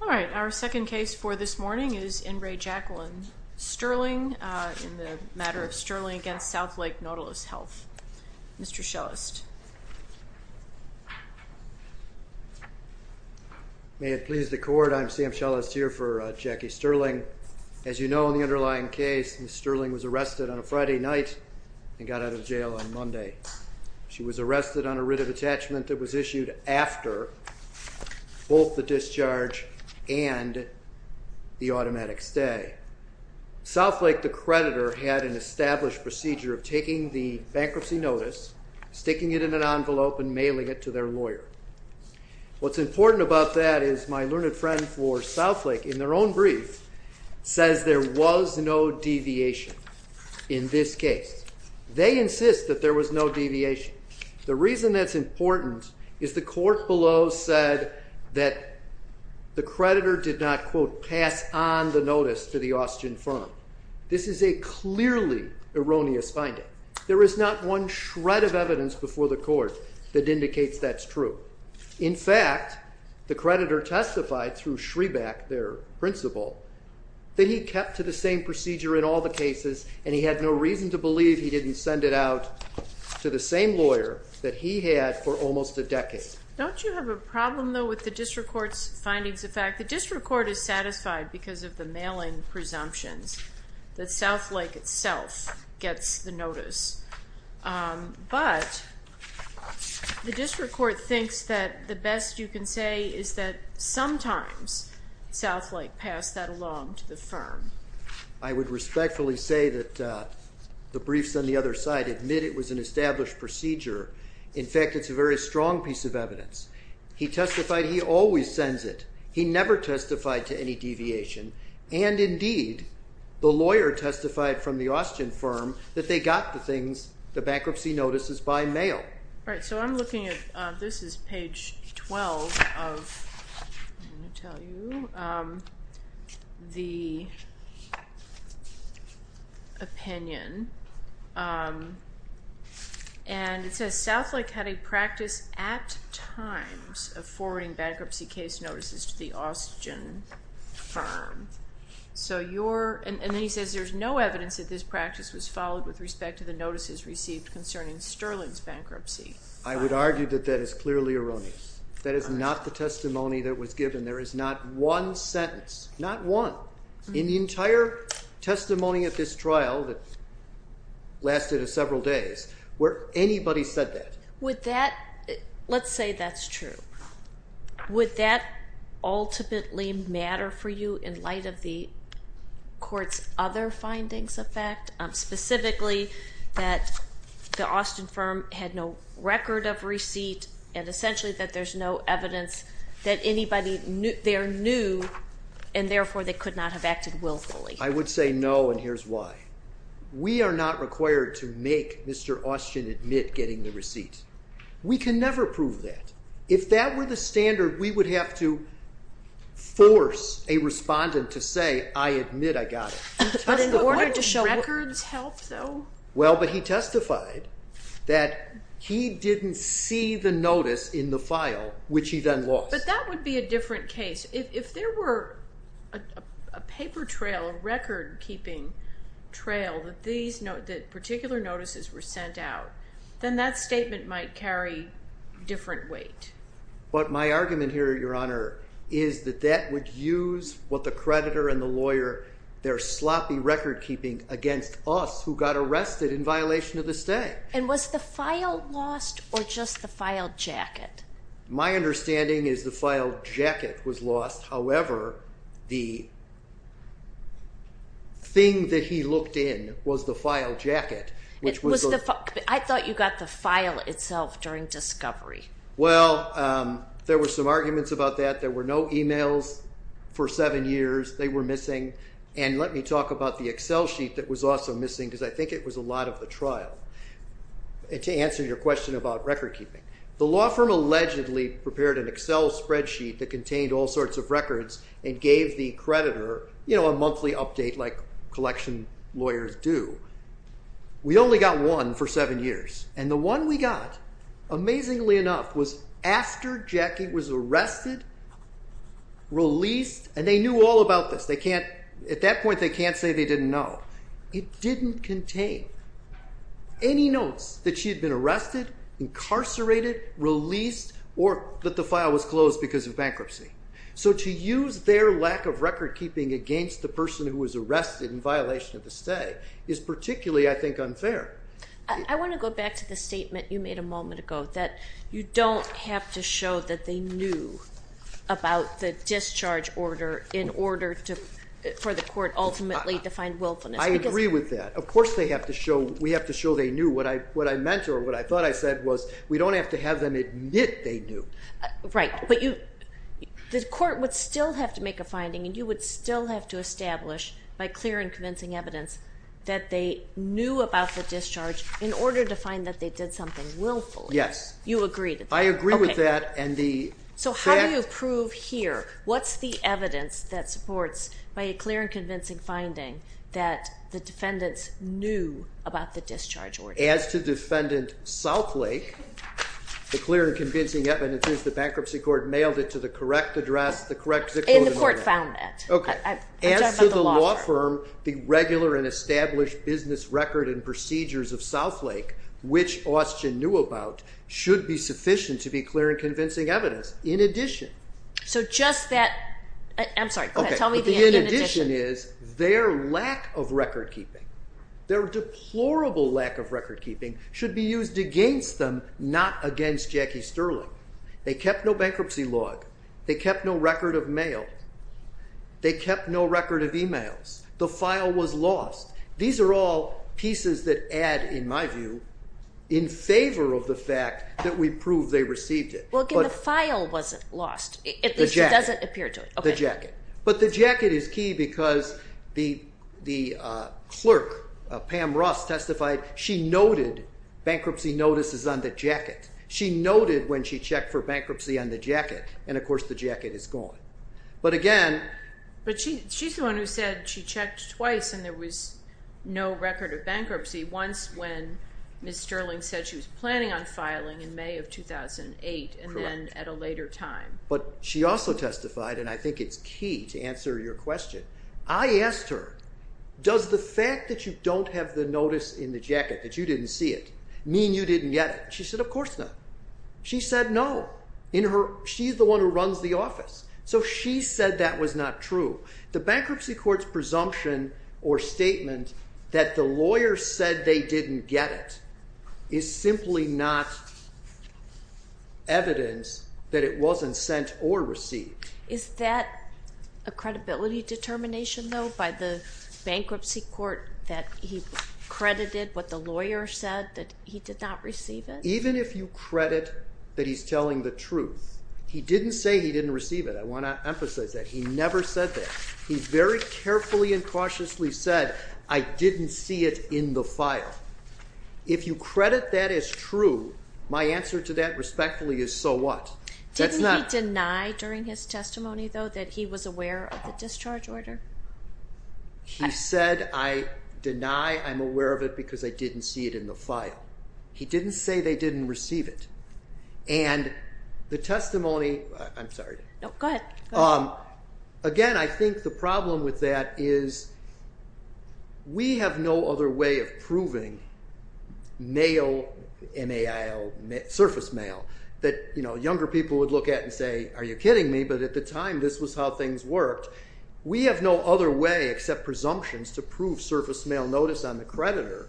Alright, our second case for this morning is Ingray-Jacklin-Sterling in the matter of Sterling v. Southlake Nautilus Health. Mr. Schellest. May it please the court, I'm Sam Schellest here for Jackie Sterling. As you know, in the underlying case, Ms. Sterling was arrested on a Friday night and got out of jail on Monday. She was arrested on a writ of attachment that was issued after both the discharge and the automatic stay. Southlake, the creditor, had an established procedure of taking the bankruptcy notice, sticking it in an envelope, and mailing it to their lawyer. What's important about that is my learned friend for Southlake, in their own brief, says there was no deviation in this case. They insist that there was no deviation. The reason that's important is the court below said that the creditor did not, quote, pass on the notice to the Austrian firm. This is a clearly erroneous finding. There is not one shred of evidence before the court that indicates that's true. In fact, the creditor testified through Schreback, their principal, that he kept to the same procedure in all the cases and he had no reason to believe he didn't send it out to the same lawyer that he had for almost a decade. Don't you have a problem, though, with the district court's findings? In fact, the district court is satisfied because of the mailing presumptions that Southlake itself gets the notice. But the district court thinks that the best you can say is that sometimes Southlake passed that along to the firm. I would respectfully say that the briefs on the other side admit it was an established procedure. In fact, it's a very strong piece of evidence. He testified he always sends it. He never testified to any deviation. And indeed, the lawyer testified from the Austrian firm that they got the things, the bankruptcy notices, by mail. All right, so I'm looking at, this is page 12 of, let me tell you, the opinion. And it says Southlake had a practice at times of forwarding bankruptcy case notices to the Austrian firm. And then he says there's no evidence that this practice was followed with respect to the notices received concerning Sterling's bankruptcy. I would argue that that is clearly erroneous. That is not the testimony that was given. There is not one sentence, not one, in the entire testimony of this trial that lasted several days, where anybody said that. Would that, let's say that's true, would that ultimately matter for you in light of the court's other findings of fact? Specifically, that the Austrian firm had no record of receipt and essentially that there's no evidence that anybody there knew and therefore they could not have acted willfully. I would say no, and here's why. We are not required to make Mr. Austrian admit getting the receipt. We can never prove that. If that were the standard, we would have to force a respondent to say, I admit I got it. But in order to show records help, though? Well, but he testified that he didn't see the notice in the file, which he then lost. But that would be a different case. If there were a paper trail, a record-keeping trail that particular notices were sent out, then that statement might carry different weight. But my argument here, Your Honor, is that that would use what the creditor and the lawyer, their sloppy record-keeping against us who got arrested in violation of the stay. And was the file lost or just the file jacket? My understanding is the file jacket was lost. However, the thing that he looked in was the file jacket. I thought you got the file itself during discovery. Well, there were some arguments about that. There were no emails for seven years. They were missing. And let me talk about the Excel sheet that was also missing because I think it was a lot of the trial. To answer your question about record-keeping, the law firm allegedly prepared an Excel spreadsheet that contained all sorts of records and gave the creditor a monthly update like collection lawyers do. We only got one for seven years. And the one we got, amazingly enough, was after Jackie was arrested, released, and they knew all about this. At that point, they can't say they didn't know. It didn't contain any notes that she had been arrested, incarcerated, released, or that the file was closed because of bankruptcy. So to use their lack of record-keeping against the person who was arrested in violation of the stay is particularly, I think, unfair. I want to go back to the statement you made a moment ago that you don't have to show that they knew about the discharge order in order for the court ultimately to find willfulness. I agree with that. Of course we have to show they knew. What I meant or what I thought I said was we don't have to have them admit they knew. Right. But the court would still have to make a finding and you would still have to establish by clear and convincing evidence that they knew about the discharge in order to find that they did something willfully. Yes. I agree with that. So how do you prove here? What's the evidence that supports by a clear and convincing finding that the defendants knew about the discharge order? As to defendant Southlake, the clear and convincing evidence is the bankruptcy court mailed it to the correct address, the correct zip code. The court found that. As to the law firm, the regular and established business record and procedures of Southlake, which Austen knew about, should be sufficient to be clear and convincing evidence. I'm sorry. Tell me the in addition. The in addition is their lack of record keeping. Their deplorable lack of record keeping should be used against them, not against Jackie Sterling. They kept no bankruptcy log. They kept no record of mail. They kept no record of emails. The file was lost. These are all pieces that add, in my view, in favor of the fact that we prove they received it. Well, again, the file wasn't lost. At least it doesn't appear to. The jacket. But the jacket is key because the clerk, Pam Ross, testified she noted bankruptcy notices on the jacket. She noted when she checked for bankruptcy on the jacket. And, of course, the jacket is gone. But she's the one who said she checked twice and there was no record of bankruptcy. Once when Ms. Sterling said she was planning on filing in May of 2008 and then at a later time. But she also testified, and I think it's key to answer your question. I asked her, does the fact that you don't have the notice in the jacket, that you didn't see it, mean you didn't get it? She said, of course not. She said no. She's the one who runs the office. So she said that was not true. The bankruptcy court's presumption or statement that the lawyer said they didn't get it is simply not evidence that it wasn't sent or received. Is that a credibility determination, though, by the bankruptcy court that he credited what the lawyer said that he did not receive it? And even if you credit that he's telling the truth, he didn't say he didn't receive it. I want to emphasize that. He never said that. He very carefully and cautiously said, I didn't see it in the file. If you credit that as true, my answer to that respectfully is, so what? Didn't he deny during his testimony, though, that he was aware of the discharge order? He said, I deny I'm aware of it because I didn't see it in the file. He didn't say they didn't receive it. And the testimony, I'm sorry. Go ahead. Again, I think the problem with that is we have no other way of proving mail, MAIL, surface mail that younger people would look at and say, are you kidding me? But at the time, this was how things worked. We have no other way except presumptions to prove surface mail notice on the creditor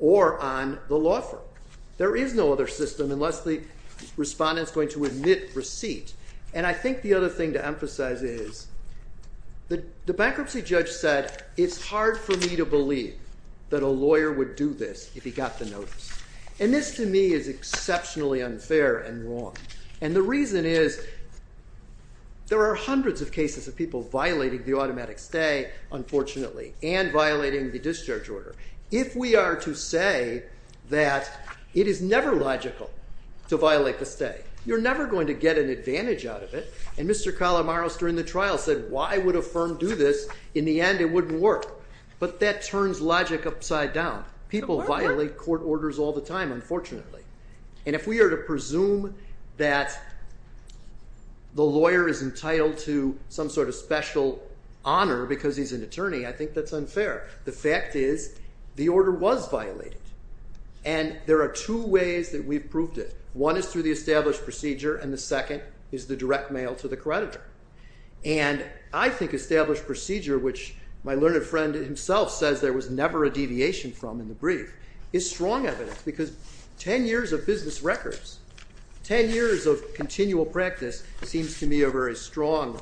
or on the law firm. There is no other system unless the respondent is going to admit receipt. And I think the other thing to emphasize is that the bankruptcy judge said it's hard for me to believe that a lawyer would do this if he got the notice. And this, to me, is exceptionally unfair and wrong. And the reason is there are hundreds of cases of people violating the automatic stay, unfortunately, and violating the discharge order. If we are to say that it is never logical to violate the stay, you're never going to get an advantage out of it. And Mr. Calamaros during the trial said, why would a firm do this? In the end, it wouldn't work. But that turns logic upside down. People violate court orders all the time, unfortunately. And if we are to presume that the lawyer is entitled to some sort of special honor because he's an attorney, I think that's unfair. The fact is the order was violated. And there are two ways that we've proved it. One is through the established procedure, and the second is the direct mail to the creditor. And I think established procedure, which my learned friend himself says there was never a deviation from in the brief, is strong evidence. Because 10 years of business records, 10 years of continual practice seems to me a very strong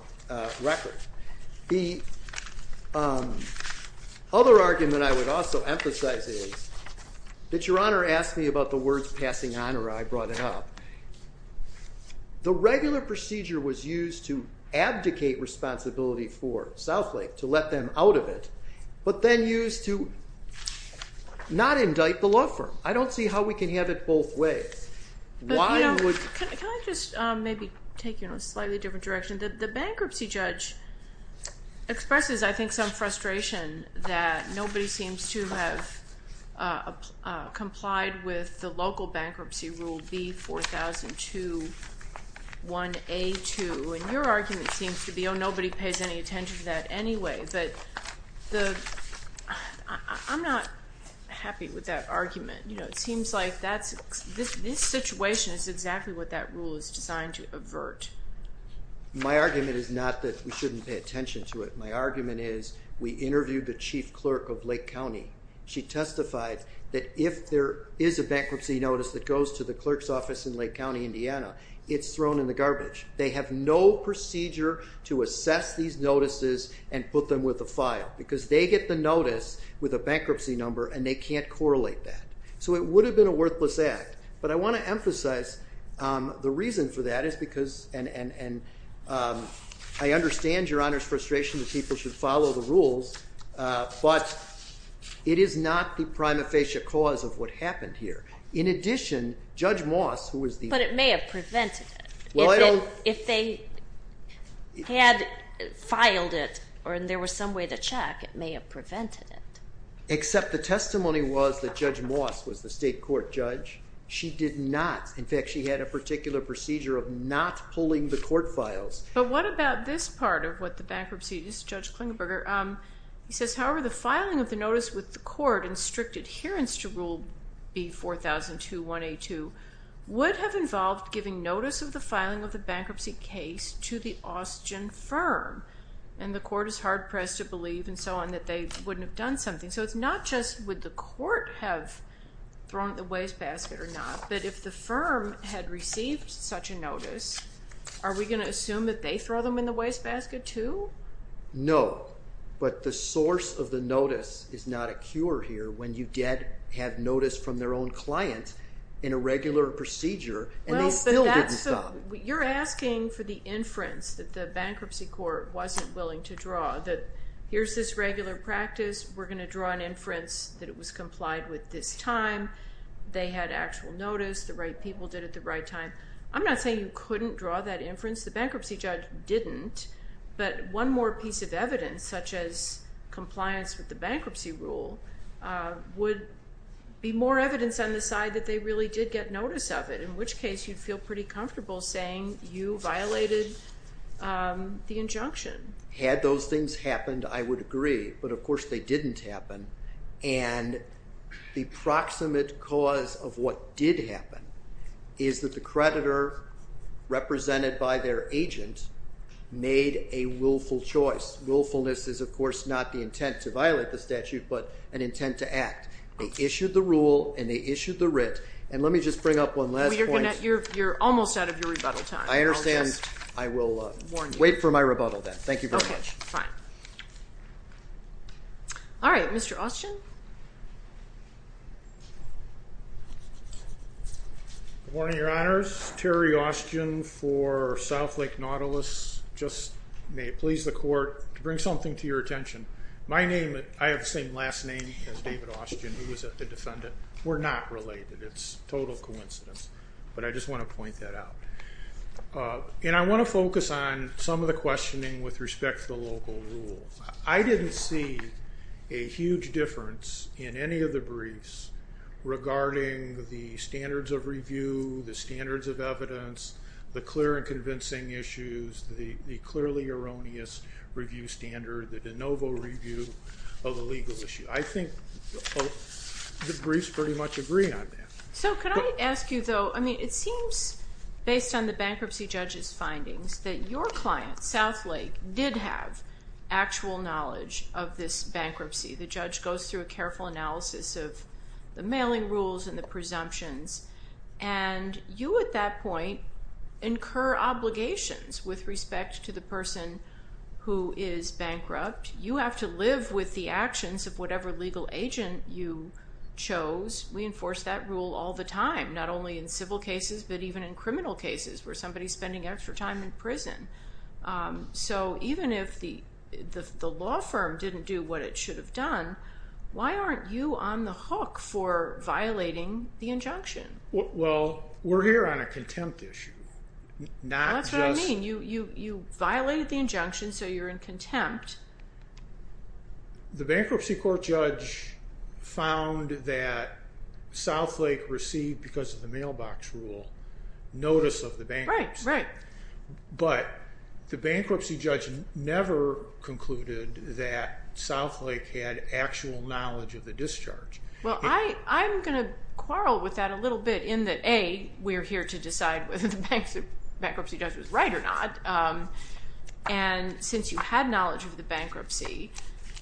record. The other argument I would also emphasize is that Your Honor asked me about the words passing honor. I brought it up. The regular procedure was used to abdicate responsibility for Southlake, to let them out of it, but then used to not indict the law firm. I don't see how we can have it both ways. Why would – Can I just maybe take you in a slightly different direction? The bankruptcy judge expresses, I think, some frustration that nobody seems to have complied with the local bankruptcy rule B4002-1A2. And your argument seems to be, oh, nobody pays any attention to that anyway. I'm not happy with that argument. It seems like this situation is exactly what that rule is designed to avert. My argument is not that we shouldn't pay attention to it. My argument is we interviewed the chief clerk of Lake County. She testified that if there is a bankruptcy notice that goes to the clerk's office in Lake County, Indiana, it's thrown in the garbage. They have no procedure to assess these notices and put them with a file because they get the notice with a bankruptcy number, and they can't correlate that. So it would have been a worthless act. But I want to emphasize the reason for that is because – and I understand Your Honor's frustration that people should follow the rules. But it is not the prima facie cause of what happened here. In addition, Judge Moss, who was the – But it may have prevented it. Well, I don't – If they had filed it or there was some way to check, it may have prevented it. Except the testimony was that Judge Moss was the state court judge. She did not. In fact, she had a particular procedure of not pulling the court files. But what about this part of what the bankruptcy – this is Judge Klingenberger. He says, however, the filing of the notice with the court in strict adherence to Rule B4002-182 would have involved giving notice of the filing of the bankruptcy case to the Austgen firm. And the court is hard-pressed to believe and so on that they wouldn't have done something. So it's not just would the court have thrown it in the wastebasket or not, but if the firm had received such a notice, are we going to assume that they throw them in the wastebasket too? No. But the source of the notice is not a cure here when you did have notice from their own client in a regular procedure and they still didn't stop. You're asking for the inference that the bankruptcy court wasn't willing to draw, that here's this regular practice. We're going to draw an inference that it was complied with this time. They had actual notice. The right people did it the right time. I'm not saying you couldn't draw that inference. The bankruptcy judge didn't. But one more piece of evidence, such as compliance with the bankruptcy rule, would be more evidence on the side that they really did get notice of it, in which case you'd feel pretty comfortable saying you violated the injunction. Had those things happened, I would agree. But, of course, they didn't happen. And the proximate cause of what did happen is that the creditor, represented by their agent, made a willful choice. Willfulness is, of course, not the intent to violate the statute but an intent to act. They issued the rule and they issued the writ. And let me just bring up one last point. You're almost out of your rebuttal time. I understand. I will wait for my rebuttal then. Thank you very much. Okay. Fine. All right. Mr. Austgen? Good morning, Your Honors. Terry Austgen for South Lake Nautilus. Just may it please the Court to bring something to your attention. My name, I have the same last name as David Austgen, who was the defendant. We're not related. It's a total coincidence. But I just want to point that out. And I want to focus on some of the questioning with respect to the local rule. I didn't see a huge difference in any of the briefs regarding the standards of review, the standards of evidence, the clear and convincing issues, the clearly erroneous review standard, the de novo review of a legal issue. I think the briefs pretty much agree on that. So could I ask you though, I mean, it seems based on the bankruptcy judge's findings that your client, South Lake, did have actual knowledge of this bankruptcy. The judge goes through a careful analysis of the mailing rules and the presumptions. And you at that point incur obligations with respect to the person who is bankrupt. You have to live with the actions of whatever legal agent you chose. We enforce that rule all the time, not only in civil cases, but even in criminal cases where somebody's spending extra time in prison. So even if the law firm didn't do what it should have done, why aren't you on the hook for violating the injunction? Well, we're here on a contempt issue. That's what I mean. You violated the injunction, so you're in contempt. The bankruptcy court judge found that South Lake received, because of the mailbox rule, notice of the bankruptcy. Right, right. But the bankruptcy judge never concluded that South Lake had actual knowledge of the discharge. Well, I'm going to quarrel with that a little bit in that, A, we're here to decide whether the bankruptcy judge was right or not. And since you had knowledge of the bankruptcy,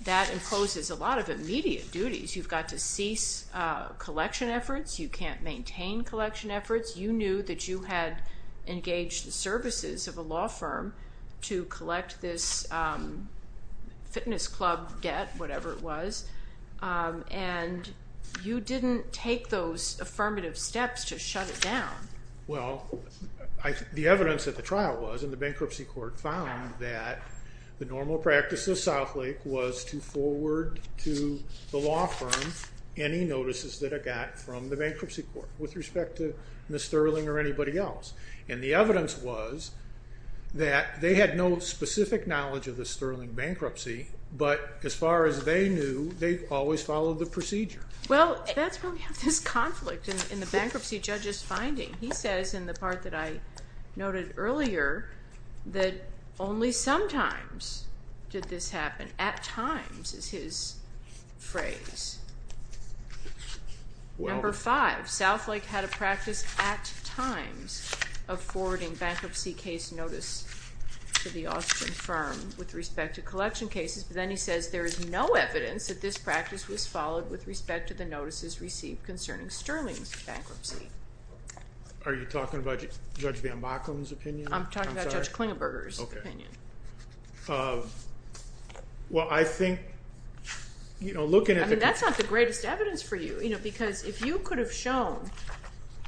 that imposes a lot of immediate duties. You've got to cease collection efforts. You can't maintain collection efforts. You knew that you had engaged the services of a law firm to collect this fitness club debt, whatever it was. And you didn't take those affirmative steps to shut it down. Well, the evidence at the trial was, and the bankruptcy court found, that the normal practice of South Lake was to forward to the law firm any notices that it got from the bankruptcy court with respect to Ms. Sterling or anybody else. And the evidence was that they had no specific knowledge of the Sterling bankruptcy, but as far as they knew, they always followed the procedure. Well, that's where we have this conflict in the bankruptcy judge's finding. He says in the part that I noted earlier that only sometimes did this happen. At times is his phrase. Number five, South Lake had a practice at times of forwarding bankruptcy case notice to the Austrian firm with respect to collection cases. But then he says there is no evidence that this practice was followed with respect to the notices received concerning Sterling's bankruptcy. Are you talking about Judge Van Backen's opinion? I'm talking about Judge Klingenberger's opinion. That's not the greatest evidence for you. Because if you could have shown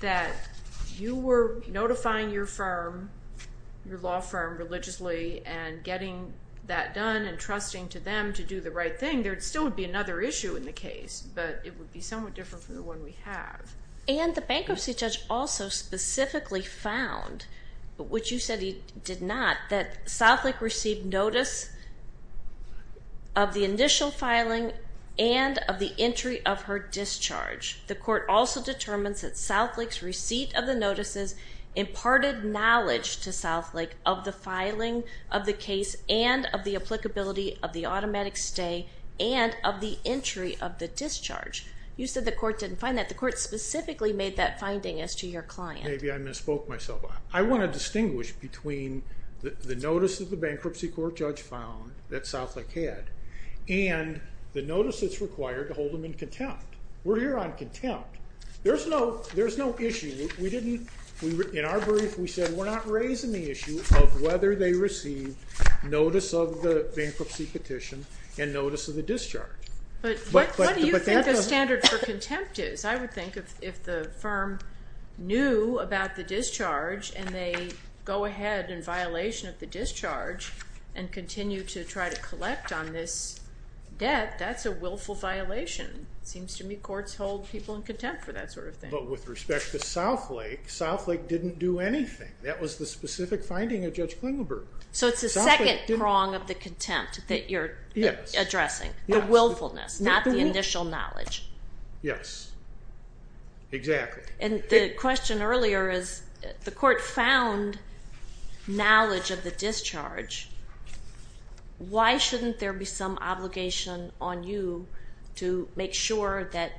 that you were notifying your firm, your law firm, religiously and getting that done and trusting to them to do the right thing, there still would be another issue in the case. But it would be somewhat different from the one we have. And the bankruptcy judge also specifically found, which you said he did not, that South Lake received notice of the initial filing and of the entry of her discharge. The court also determines that South Lake's receipt of the notices imparted knowledge to South Lake of the filing of the case and of the applicability of the automatic stay and of the entry of the discharge. You said the court didn't find that. The court specifically made that finding as to your client. Maybe I misspoke myself. I want to distinguish between the notice that the bankruptcy court judge found that South Lake had and the notice that's required to hold them in contempt. We're here on contempt. There's no issue. In our brief, we said we're not raising the issue of whether they received notice of the bankruptcy petition and notice of the discharge. But what do you think the standard for contempt is? I would think if the firm knew about the discharge and they go ahead in violation of the discharge and continue to try to collect on this debt, that's a willful violation. It seems to me courts hold people in contempt for that sort of thing. But with respect to South Lake, South Lake didn't do anything. That was the specific finding of Judge Klingenberger. So it's the second prong of the contempt that you're addressing. The willfulness, not the initial knowledge. Yes, exactly. And the question earlier is the court found knowledge of the discharge. Why shouldn't there be some obligation on you to make sure that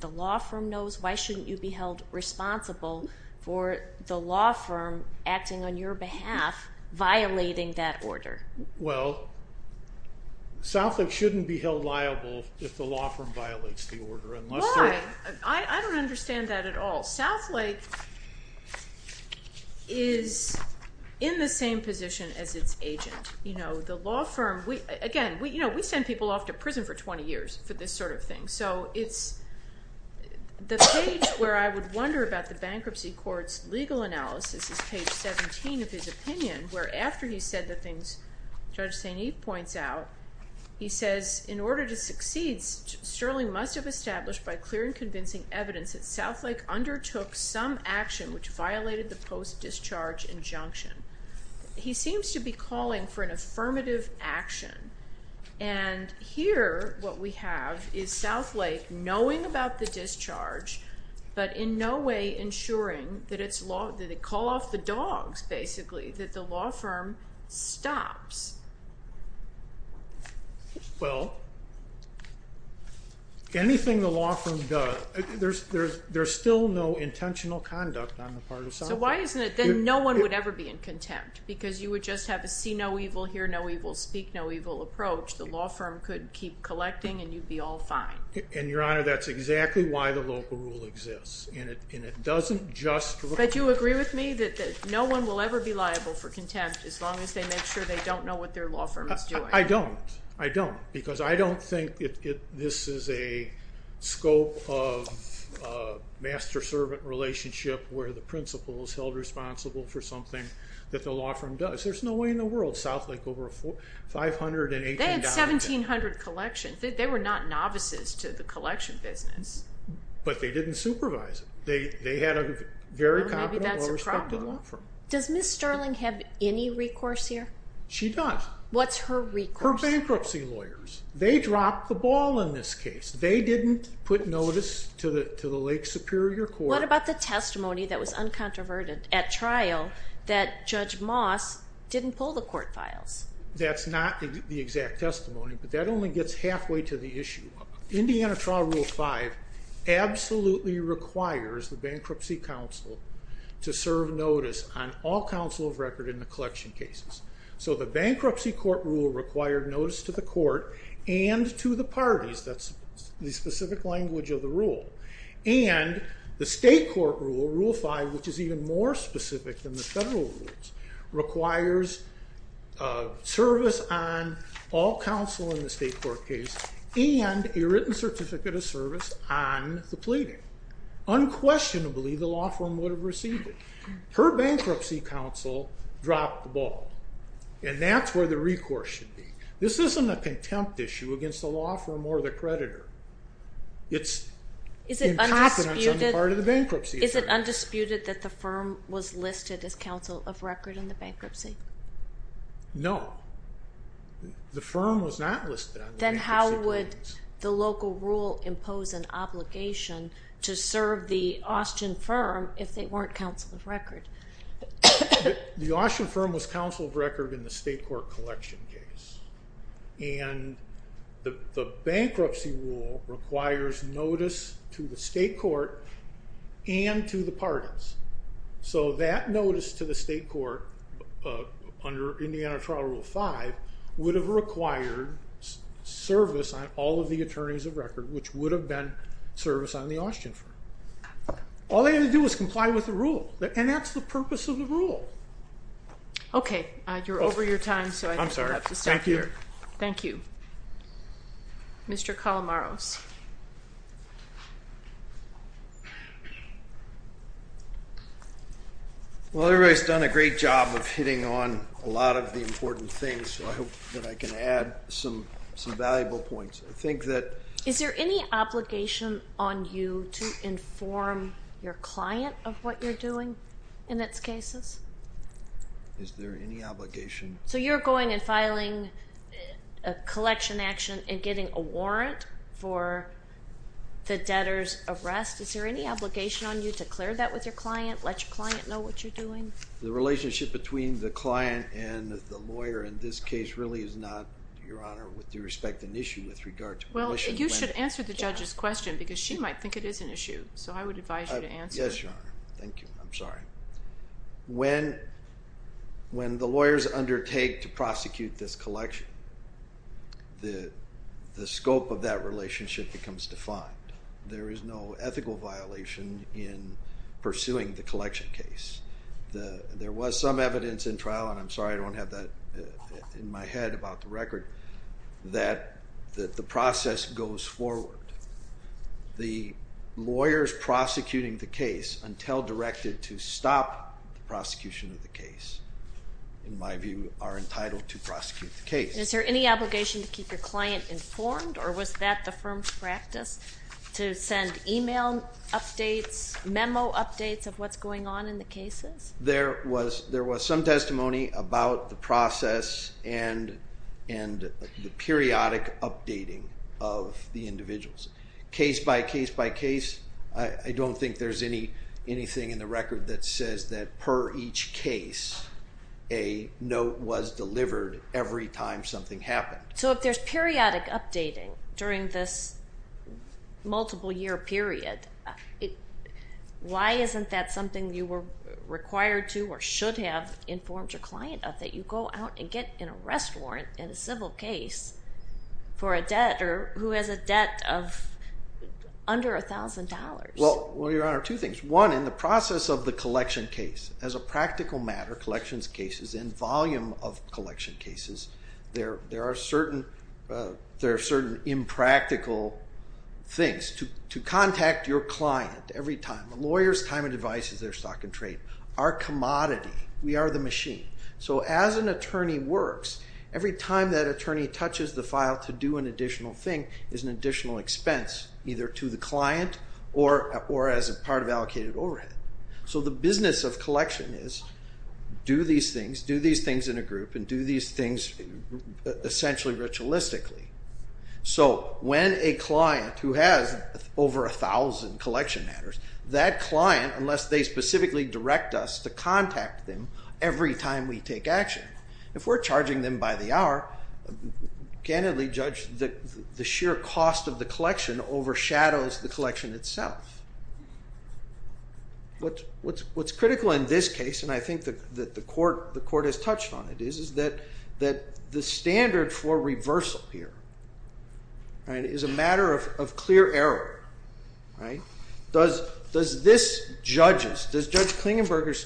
the law firm knows? Why shouldn't you be held responsible for the law firm acting on your behalf, violating that order? Well, South Lake shouldn't be held liable if the law firm violates the order. Why? I don't understand that at all. South Lake is in the same position as its agent. The law firm, again, we send people off to prison for 20 years for this sort of thing. So the page where I would wonder about the bankruptcy court's legal analysis is page 17 of his opinion, where after he said the things Judge St. Eve points out, he says, in order to succeed, Sterling must have established by clear and convincing evidence that South Lake undertook some action which violated the post-discharge injunction. He seems to be calling for an affirmative action. And here what we have is South Lake knowing about the discharge, but in no way ensuring that it's law, that they call off the dogs, basically, that the law firm stops. Well, anything the law firm does, there's still no intentional conduct on the part of South Lake. So why isn't it that no one would ever be in contempt? Because you would just have a see-no-evil, hear-no-evil, speak-no-evil approach. The law firm could keep collecting, and you'd be all fine. And, Your Honor, that's exactly why the local rule exists. But you agree with me that no one will ever be liable for contempt as long as they make sure they don't know what their law firm is doing? I don't. I don't. Because I don't think this is a scope of master-servant relationship where the principal is held responsible for something that the law firm does. There's no way in the world South Lake over a $518... They had 1,700 collections. They were not novices to the collection business. But they didn't supervise it. They had a very competent, well-respected law firm. Does Ms. Sterling have any recourse here? She does. What's her recourse? Her bankruptcy lawyers. They dropped the ball in this case. They didn't put notice to the Lake Superior Court. What about the testimony that was uncontroverted at trial that Judge Moss didn't pull the court files? That's not the exact testimony, but that only gets halfway to the issue. Indiana Trial Rule 5 absolutely requires the Bankruptcy Council to serve notice on all counsel of record in the collection cases. So the Bankruptcy Court Rule required notice to the court and to the parties. That's the specific language of the rule. And the State Court Rule, Rule 5, which is even more specific than the federal rules, requires service on all counsel in the State Court case and a written certificate of service on the pleading. Unquestionably, the law firm would have received it. Her Bankruptcy Council dropped the ball, and that's where the recourse should be. This isn't a contempt issue against the law firm or the creditor. It's incompetence on the part of the bankruptcy firm. Is it undisputed that the firm was listed as counsel of record in the bankruptcy? No. The firm was not listed on the bankruptcy claims. Then how would the local rule impose an obligation to serve the Austin firm if they weren't counsel of record? The Austin firm was counsel of record in the State Court collection case. And the bankruptcy rule requires notice to the State Court and to the parties. So that notice to the State Court under Indiana Trial Rule 5 would have required service on all of the attorneys of record, which would have been service on the Austin firm. All they had to do was comply with the rule, and that's the purpose of the rule. Okay. You're over your time, so I think we'll have to stop here. I'm sorry. Thank you. Thank you. Mr. Calamaros. Well, everybody's done a great job of hitting on a lot of the important things, so I hope that I can add some valuable points. Is there any obligation on you to inform your client of what you're doing in its cases? Is there any obligation? So you're going and filing a collection action and getting a warrant for the debtor's arrest. Is there any obligation on you to clear that with your client, let your client know what you're doing? The relationship between the client and the lawyer in this case really is not, Your Honor, with due respect, an issue with regard to the issue. Well, you should answer the judge's question because she might think it is an issue, so I would advise you to answer it. Yes, Your Honor. Thank you. I'm sorry. When the lawyers undertake to prosecute this collection, the scope of that relationship becomes defined. There is no ethical violation in pursuing the collection case. There was some evidence in trial, and I'm sorry I don't have that in my head about the record, that the process goes forward. The lawyers prosecuting the case, until directed to stop the prosecution of the case, in my view, are entitled to prosecute the case. Is there any obligation to keep your client informed, or was that the firm's practice to send email updates, memo updates of what's going on in the cases? There was some testimony about the process and the periodic updating of the individuals. Case by case by case, I don't think there's anything in the record that says that per each case, a note was delivered every time something happened. So if there's periodic updating during this multiple-year period, why isn't that something you were required to or should have informed your client of, that you go out and get an arrest warrant in a civil case for a debtor who has a debt of under $1,000? Well, Your Honor, two things. One, in the process of the collection case, as a practical matter, collections cases, in volume of collection cases, there are certain impractical things. To contact your client every time. A lawyer's time and advice is their stock and trade. Our commodity. We are the machine. So as an attorney works, every time that attorney touches the file to do an additional thing is an additional expense, either to the client or as a part of allocated overhead. So the business of collection is do these things, do these things in a group, and do these things essentially ritualistically. So when a client who has over 1,000 collection matters, that client, unless they specifically direct us to contact them every time we take action, if we're charging them by the hour, candidly judge the sheer cost of the collection overshadows the collection itself. What's critical in this case, and I think that the Court has touched on it, is that the standard for reversal here is a matter of clear error. Does this judge's, does Judge Klingenberger's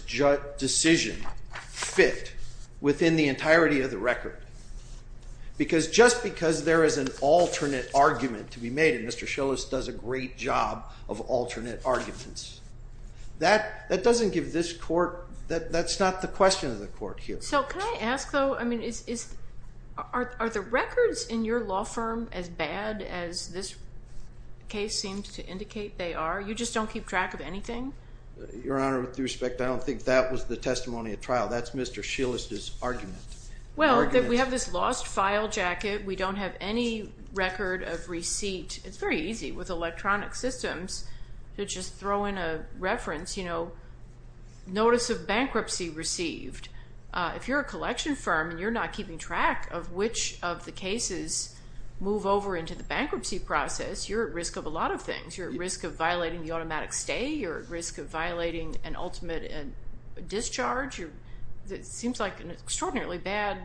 decision fit within the entirety of the record? Because just because there is an alternate argument to be made, and Mr. Schillis does a great job of alternate arguments, that doesn't give this Court, that's not the question of the Court here. So can I ask, though, I mean, are the records in your law firm as bad as this case seems to indicate they are? You just don't keep track of anything? Your Honor, with respect, I don't think that was the testimony at trial. That's Mr. Schillis' argument. Well, we have this lost file jacket. We don't have any record of receipt. It's very easy with electronic systems to just throw in a reference, you know, notice of bankruptcy received. If you're a collection firm and you're not keeping track of which of the cases move over into the bankruptcy process, you're at risk of a lot of things. You're at risk of violating the automatic stay. You're at risk of violating an ultimate discharge. It seems like an extraordinarily bad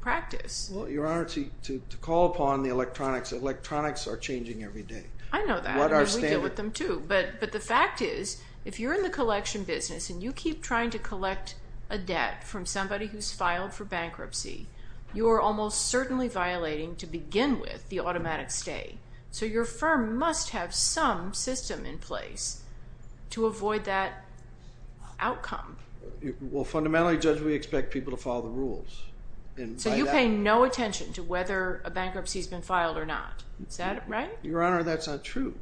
practice. Well, Your Honor, to call upon the electronics, electronics are changing every day. I know that. We deal with them too. But the fact is, if you're in the collection business and you keep trying to collect a debt from somebody who's filed for bankruptcy, you are almost certainly violating, to begin with, the automatic stay. So your firm must have some system in place to avoid that outcome. Well, fundamentally, Judge, we expect people to follow the rules. So you pay no attention to whether a bankruptcy has been filed or not. Is that right? Your Honor, that's not true.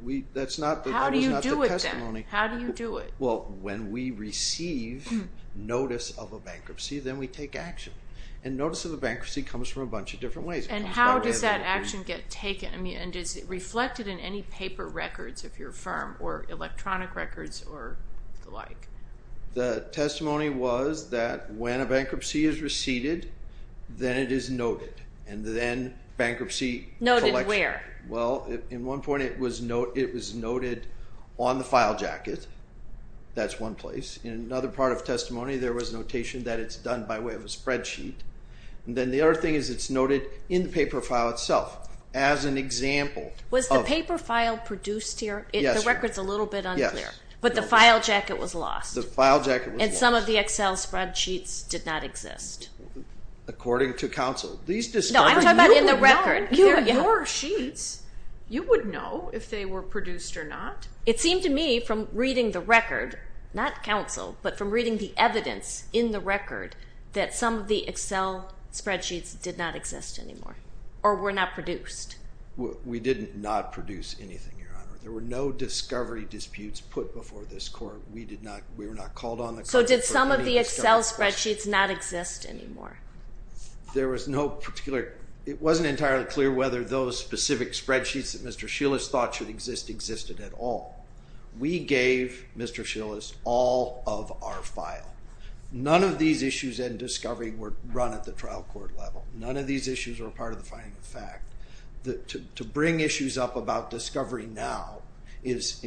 How do you do it then? How do you do it? Well, when we receive notice of a bankruptcy, then we take action. And notice of a bankruptcy comes from a bunch of different ways. And how does that action get taken? I mean, and is it reflected in any paper records of your firm or electronic records or the like? The testimony was that when a bankruptcy is received, then it is noted. And then bankruptcy collection. Noted where? Well, in one point, it was noted on the file jacket. That's one place. In another part of testimony, there was notation that it's done by way of a spreadsheet. And then the other thing is it's noted in the paper file itself as an example. Was the paper file produced here? Yes, Your Honor. The record's a little bit unclear. Yes. But the file jacket was lost. The file jacket was lost. And some of the Excel spreadsheets did not exist. According to counsel. No, I'm talking about in the record. Your sheets, you would know if they were produced or not. It seemed to me from reading the record, not counsel, but from reading the evidence in the record, that some of the Excel spreadsheets did not exist anymore or were not produced. We didn't not produce anything, Your Honor. There were no discovery disputes put before this court. We were not called on the court. So did some of the Excel spreadsheets not exist anymore? There was no particular. It wasn't entirely clear whether those specific spreadsheets that Mr. Schillis thought should exist existed at all. We gave Mr. Schillis all of our file. None of these issues in discovery were run at the trial court level. None of these issues were part of the finding of fact. To bring issues up about discovery now is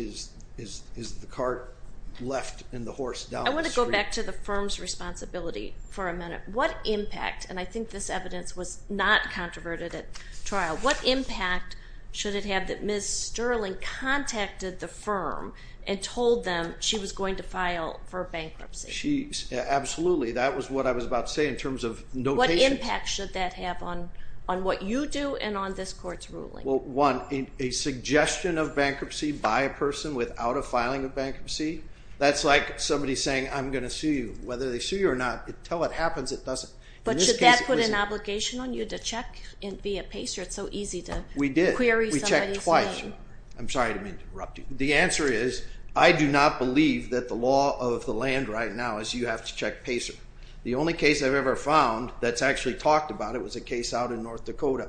the cart left and the horse down the street. I want to go back to the firm's responsibility for a minute. What impact, and I think this evidence was not controverted at trial, what impact should it have that Ms. Sterling contacted the firm and told them she was going to file for bankruptcy? Absolutely. That was what I was about to say in terms of notation. What impact should that have on what you do and on this court's ruling? Well, one, a suggestion of bankruptcy by a person without a filing of bankruptcy, that's like somebody saying, I'm going to sue you. Whether they sue you or not, until it happens, it doesn't. But should that put an obligation on you to check via PACER? It's so easy to query somebody's name. We did. We checked twice. I'm sorry, I didn't mean to interrupt you. The answer is I do not believe that the law of the land right now is you have to check PACER. The only case I've ever found that's actually talked about it was a case out in North Dakota.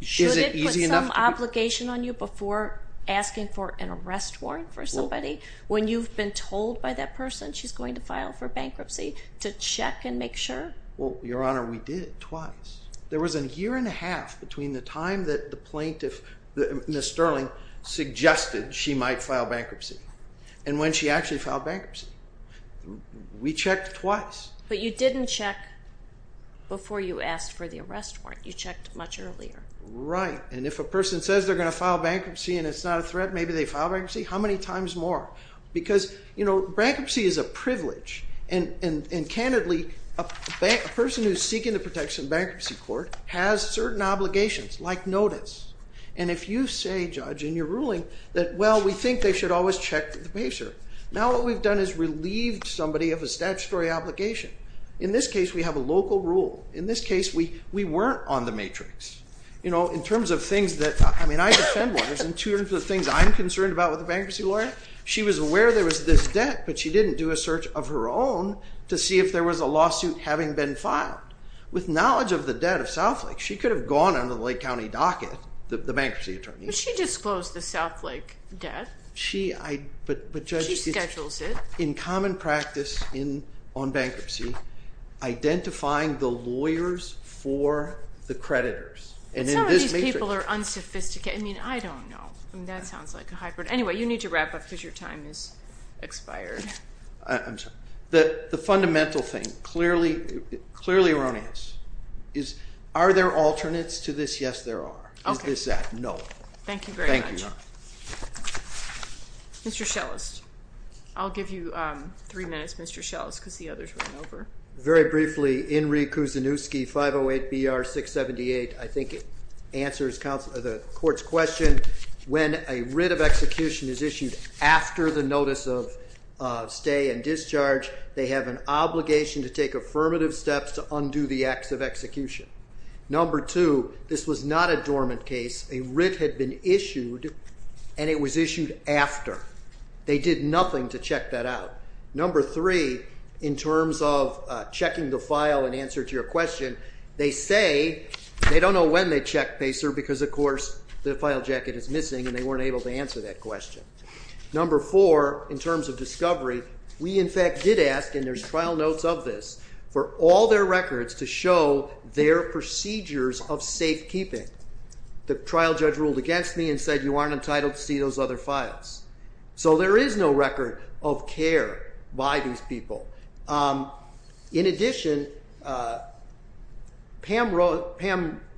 Should it put some obligation on you before asking for an arrest warrant for somebody? When you've been told by that person she's going to file for bankruptcy, to check and make sure? Well, Your Honor, we did, twice. There was a year and a half between the time that the plaintiff, Ms. Sterling, suggested she might file bankruptcy and when she actually filed bankruptcy. We checked twice. But you didn't check before you asked for the arrest warrant. You checked much earlier. Right. And if a person says they're going to file bankruptcy and it's not a threat, maybe they file bankruptcy. How many times more? Because, you know, bankruptcy is a privilege. And candidly, a person who's seeking the protection of bankruptcy court has certain obligations, like notice. And if you say, Judge, in your ruling that, well, we think they should always check the PACER, now what we've done is relieved somebody of a statutory obligation. In this case, we have a local rule. In this case, we weren't on the matrix. You know, in terms of things that, I mean, I defend lawyers. In terms of things I'm concerned about with a bankruptcy lawyer, she was aware there was this debt, but she didn't do a search of her own to see if there was a lawsuit having been filed. With knowledge of the debt of Southlake, she could have gone under the Lake County docket, the bankruptcy attorney. But she disclosed the Southlake debt. She schedules it. In common practice on bankruptcy, identifying the lawyers for the creditors. Some of these people are unsophisticated. I mean, I don't know. That sounds like a hybrid. Anyway, you need to wrap up because your time has expired. I'm sorry. The fundamental thing, clearly erroneous, is are there alternates to this? Yes, there are. Is this that? No. Thank you very much. Thank you. Mr. Schellest. I'll give you three minutes, Mr. Schellest, because the others ran over. Very briefly, Inree Kouzenkoski, 508-BR-678, I think answers the court's question. When a writ of execution is issued after the notice of stay and discharge, they have an obligation to take affirmative steps to undo the acts of execution. Number two, this was not a dormant case. A writ had been issued, and it was issued after. They did nothing to check that out. Number three, in terms of checking the file and answer to your question, they say they don't know when they checked, Pacer, because of course the file jacket is missing and they weren't able to answer that question. Number four, in terms of discovery, we, in fact, did ask, and there's trial notes of this, for all their records to show their procedures of safekeeping. The trial judge ruled against me and said, you aren't entitled to see those other files. So there is no record of care by these people. In addition, Pam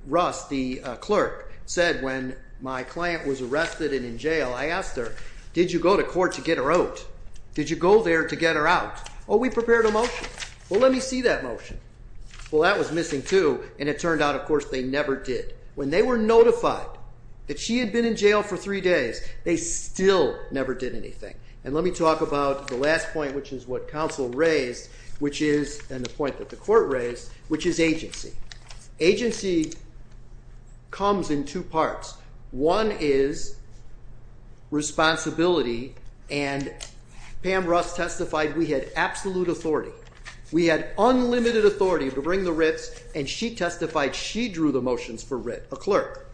Russ, the clerk, said, when my client was arrested and in jail, I asked her, did you go to court to get her out? Did you go there to get her out? Oh, we prepared a motion. Well, let me see that motion. Well, that was missing too, and it turned out, of course, they never did. When they were notified that she had been in jail for three days, they still never did anything. And let me talk about the last point, which is what counsel raised, and the point that the court raised, which is agency. Agency comes in two parts. One is responsibility, and Pam Russ testified we had absolute authority. We had unlimited authority to bring the writs, and she testified she drew the motions for writ, a clerk.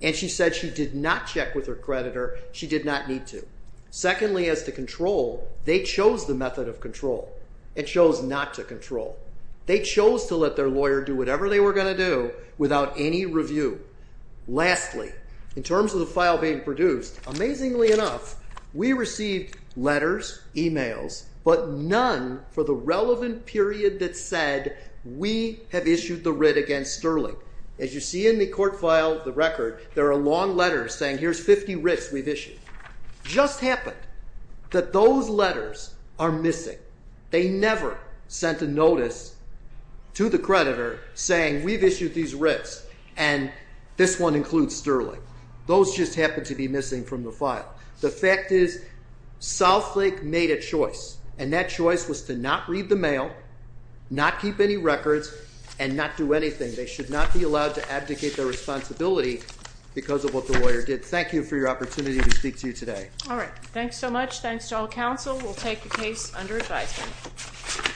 And she said she did not check with her creditor. She did not need to. Secondly, as to control, they chose the method of control and chose not to control. They chose to let their lawyer do whatever they were going to do without any review. Lastly, in terms of the file being produced, amazingly enough, we received letters, e-mails, but none for the relevant period that said we have issued the writ against Sterling. As you see in the court file, the record, there are long letters saying here's 50 writs we've issued. It just happened that those letters are missing. They never sent a notice to the creditor saying we've issued these writs and this one includes Sterling. Those just happen to be missing from the file. The fact is Southlake made a choice, and that choice was to not read the mail, not keep any records, and not do anything. They should not be allowed to abdicate their responsibility because of what the lawyer did. Thank you for your opportunity to speak to you today. All right. Thanks so much. Thanks to all counsel. We'll take the case under advisement.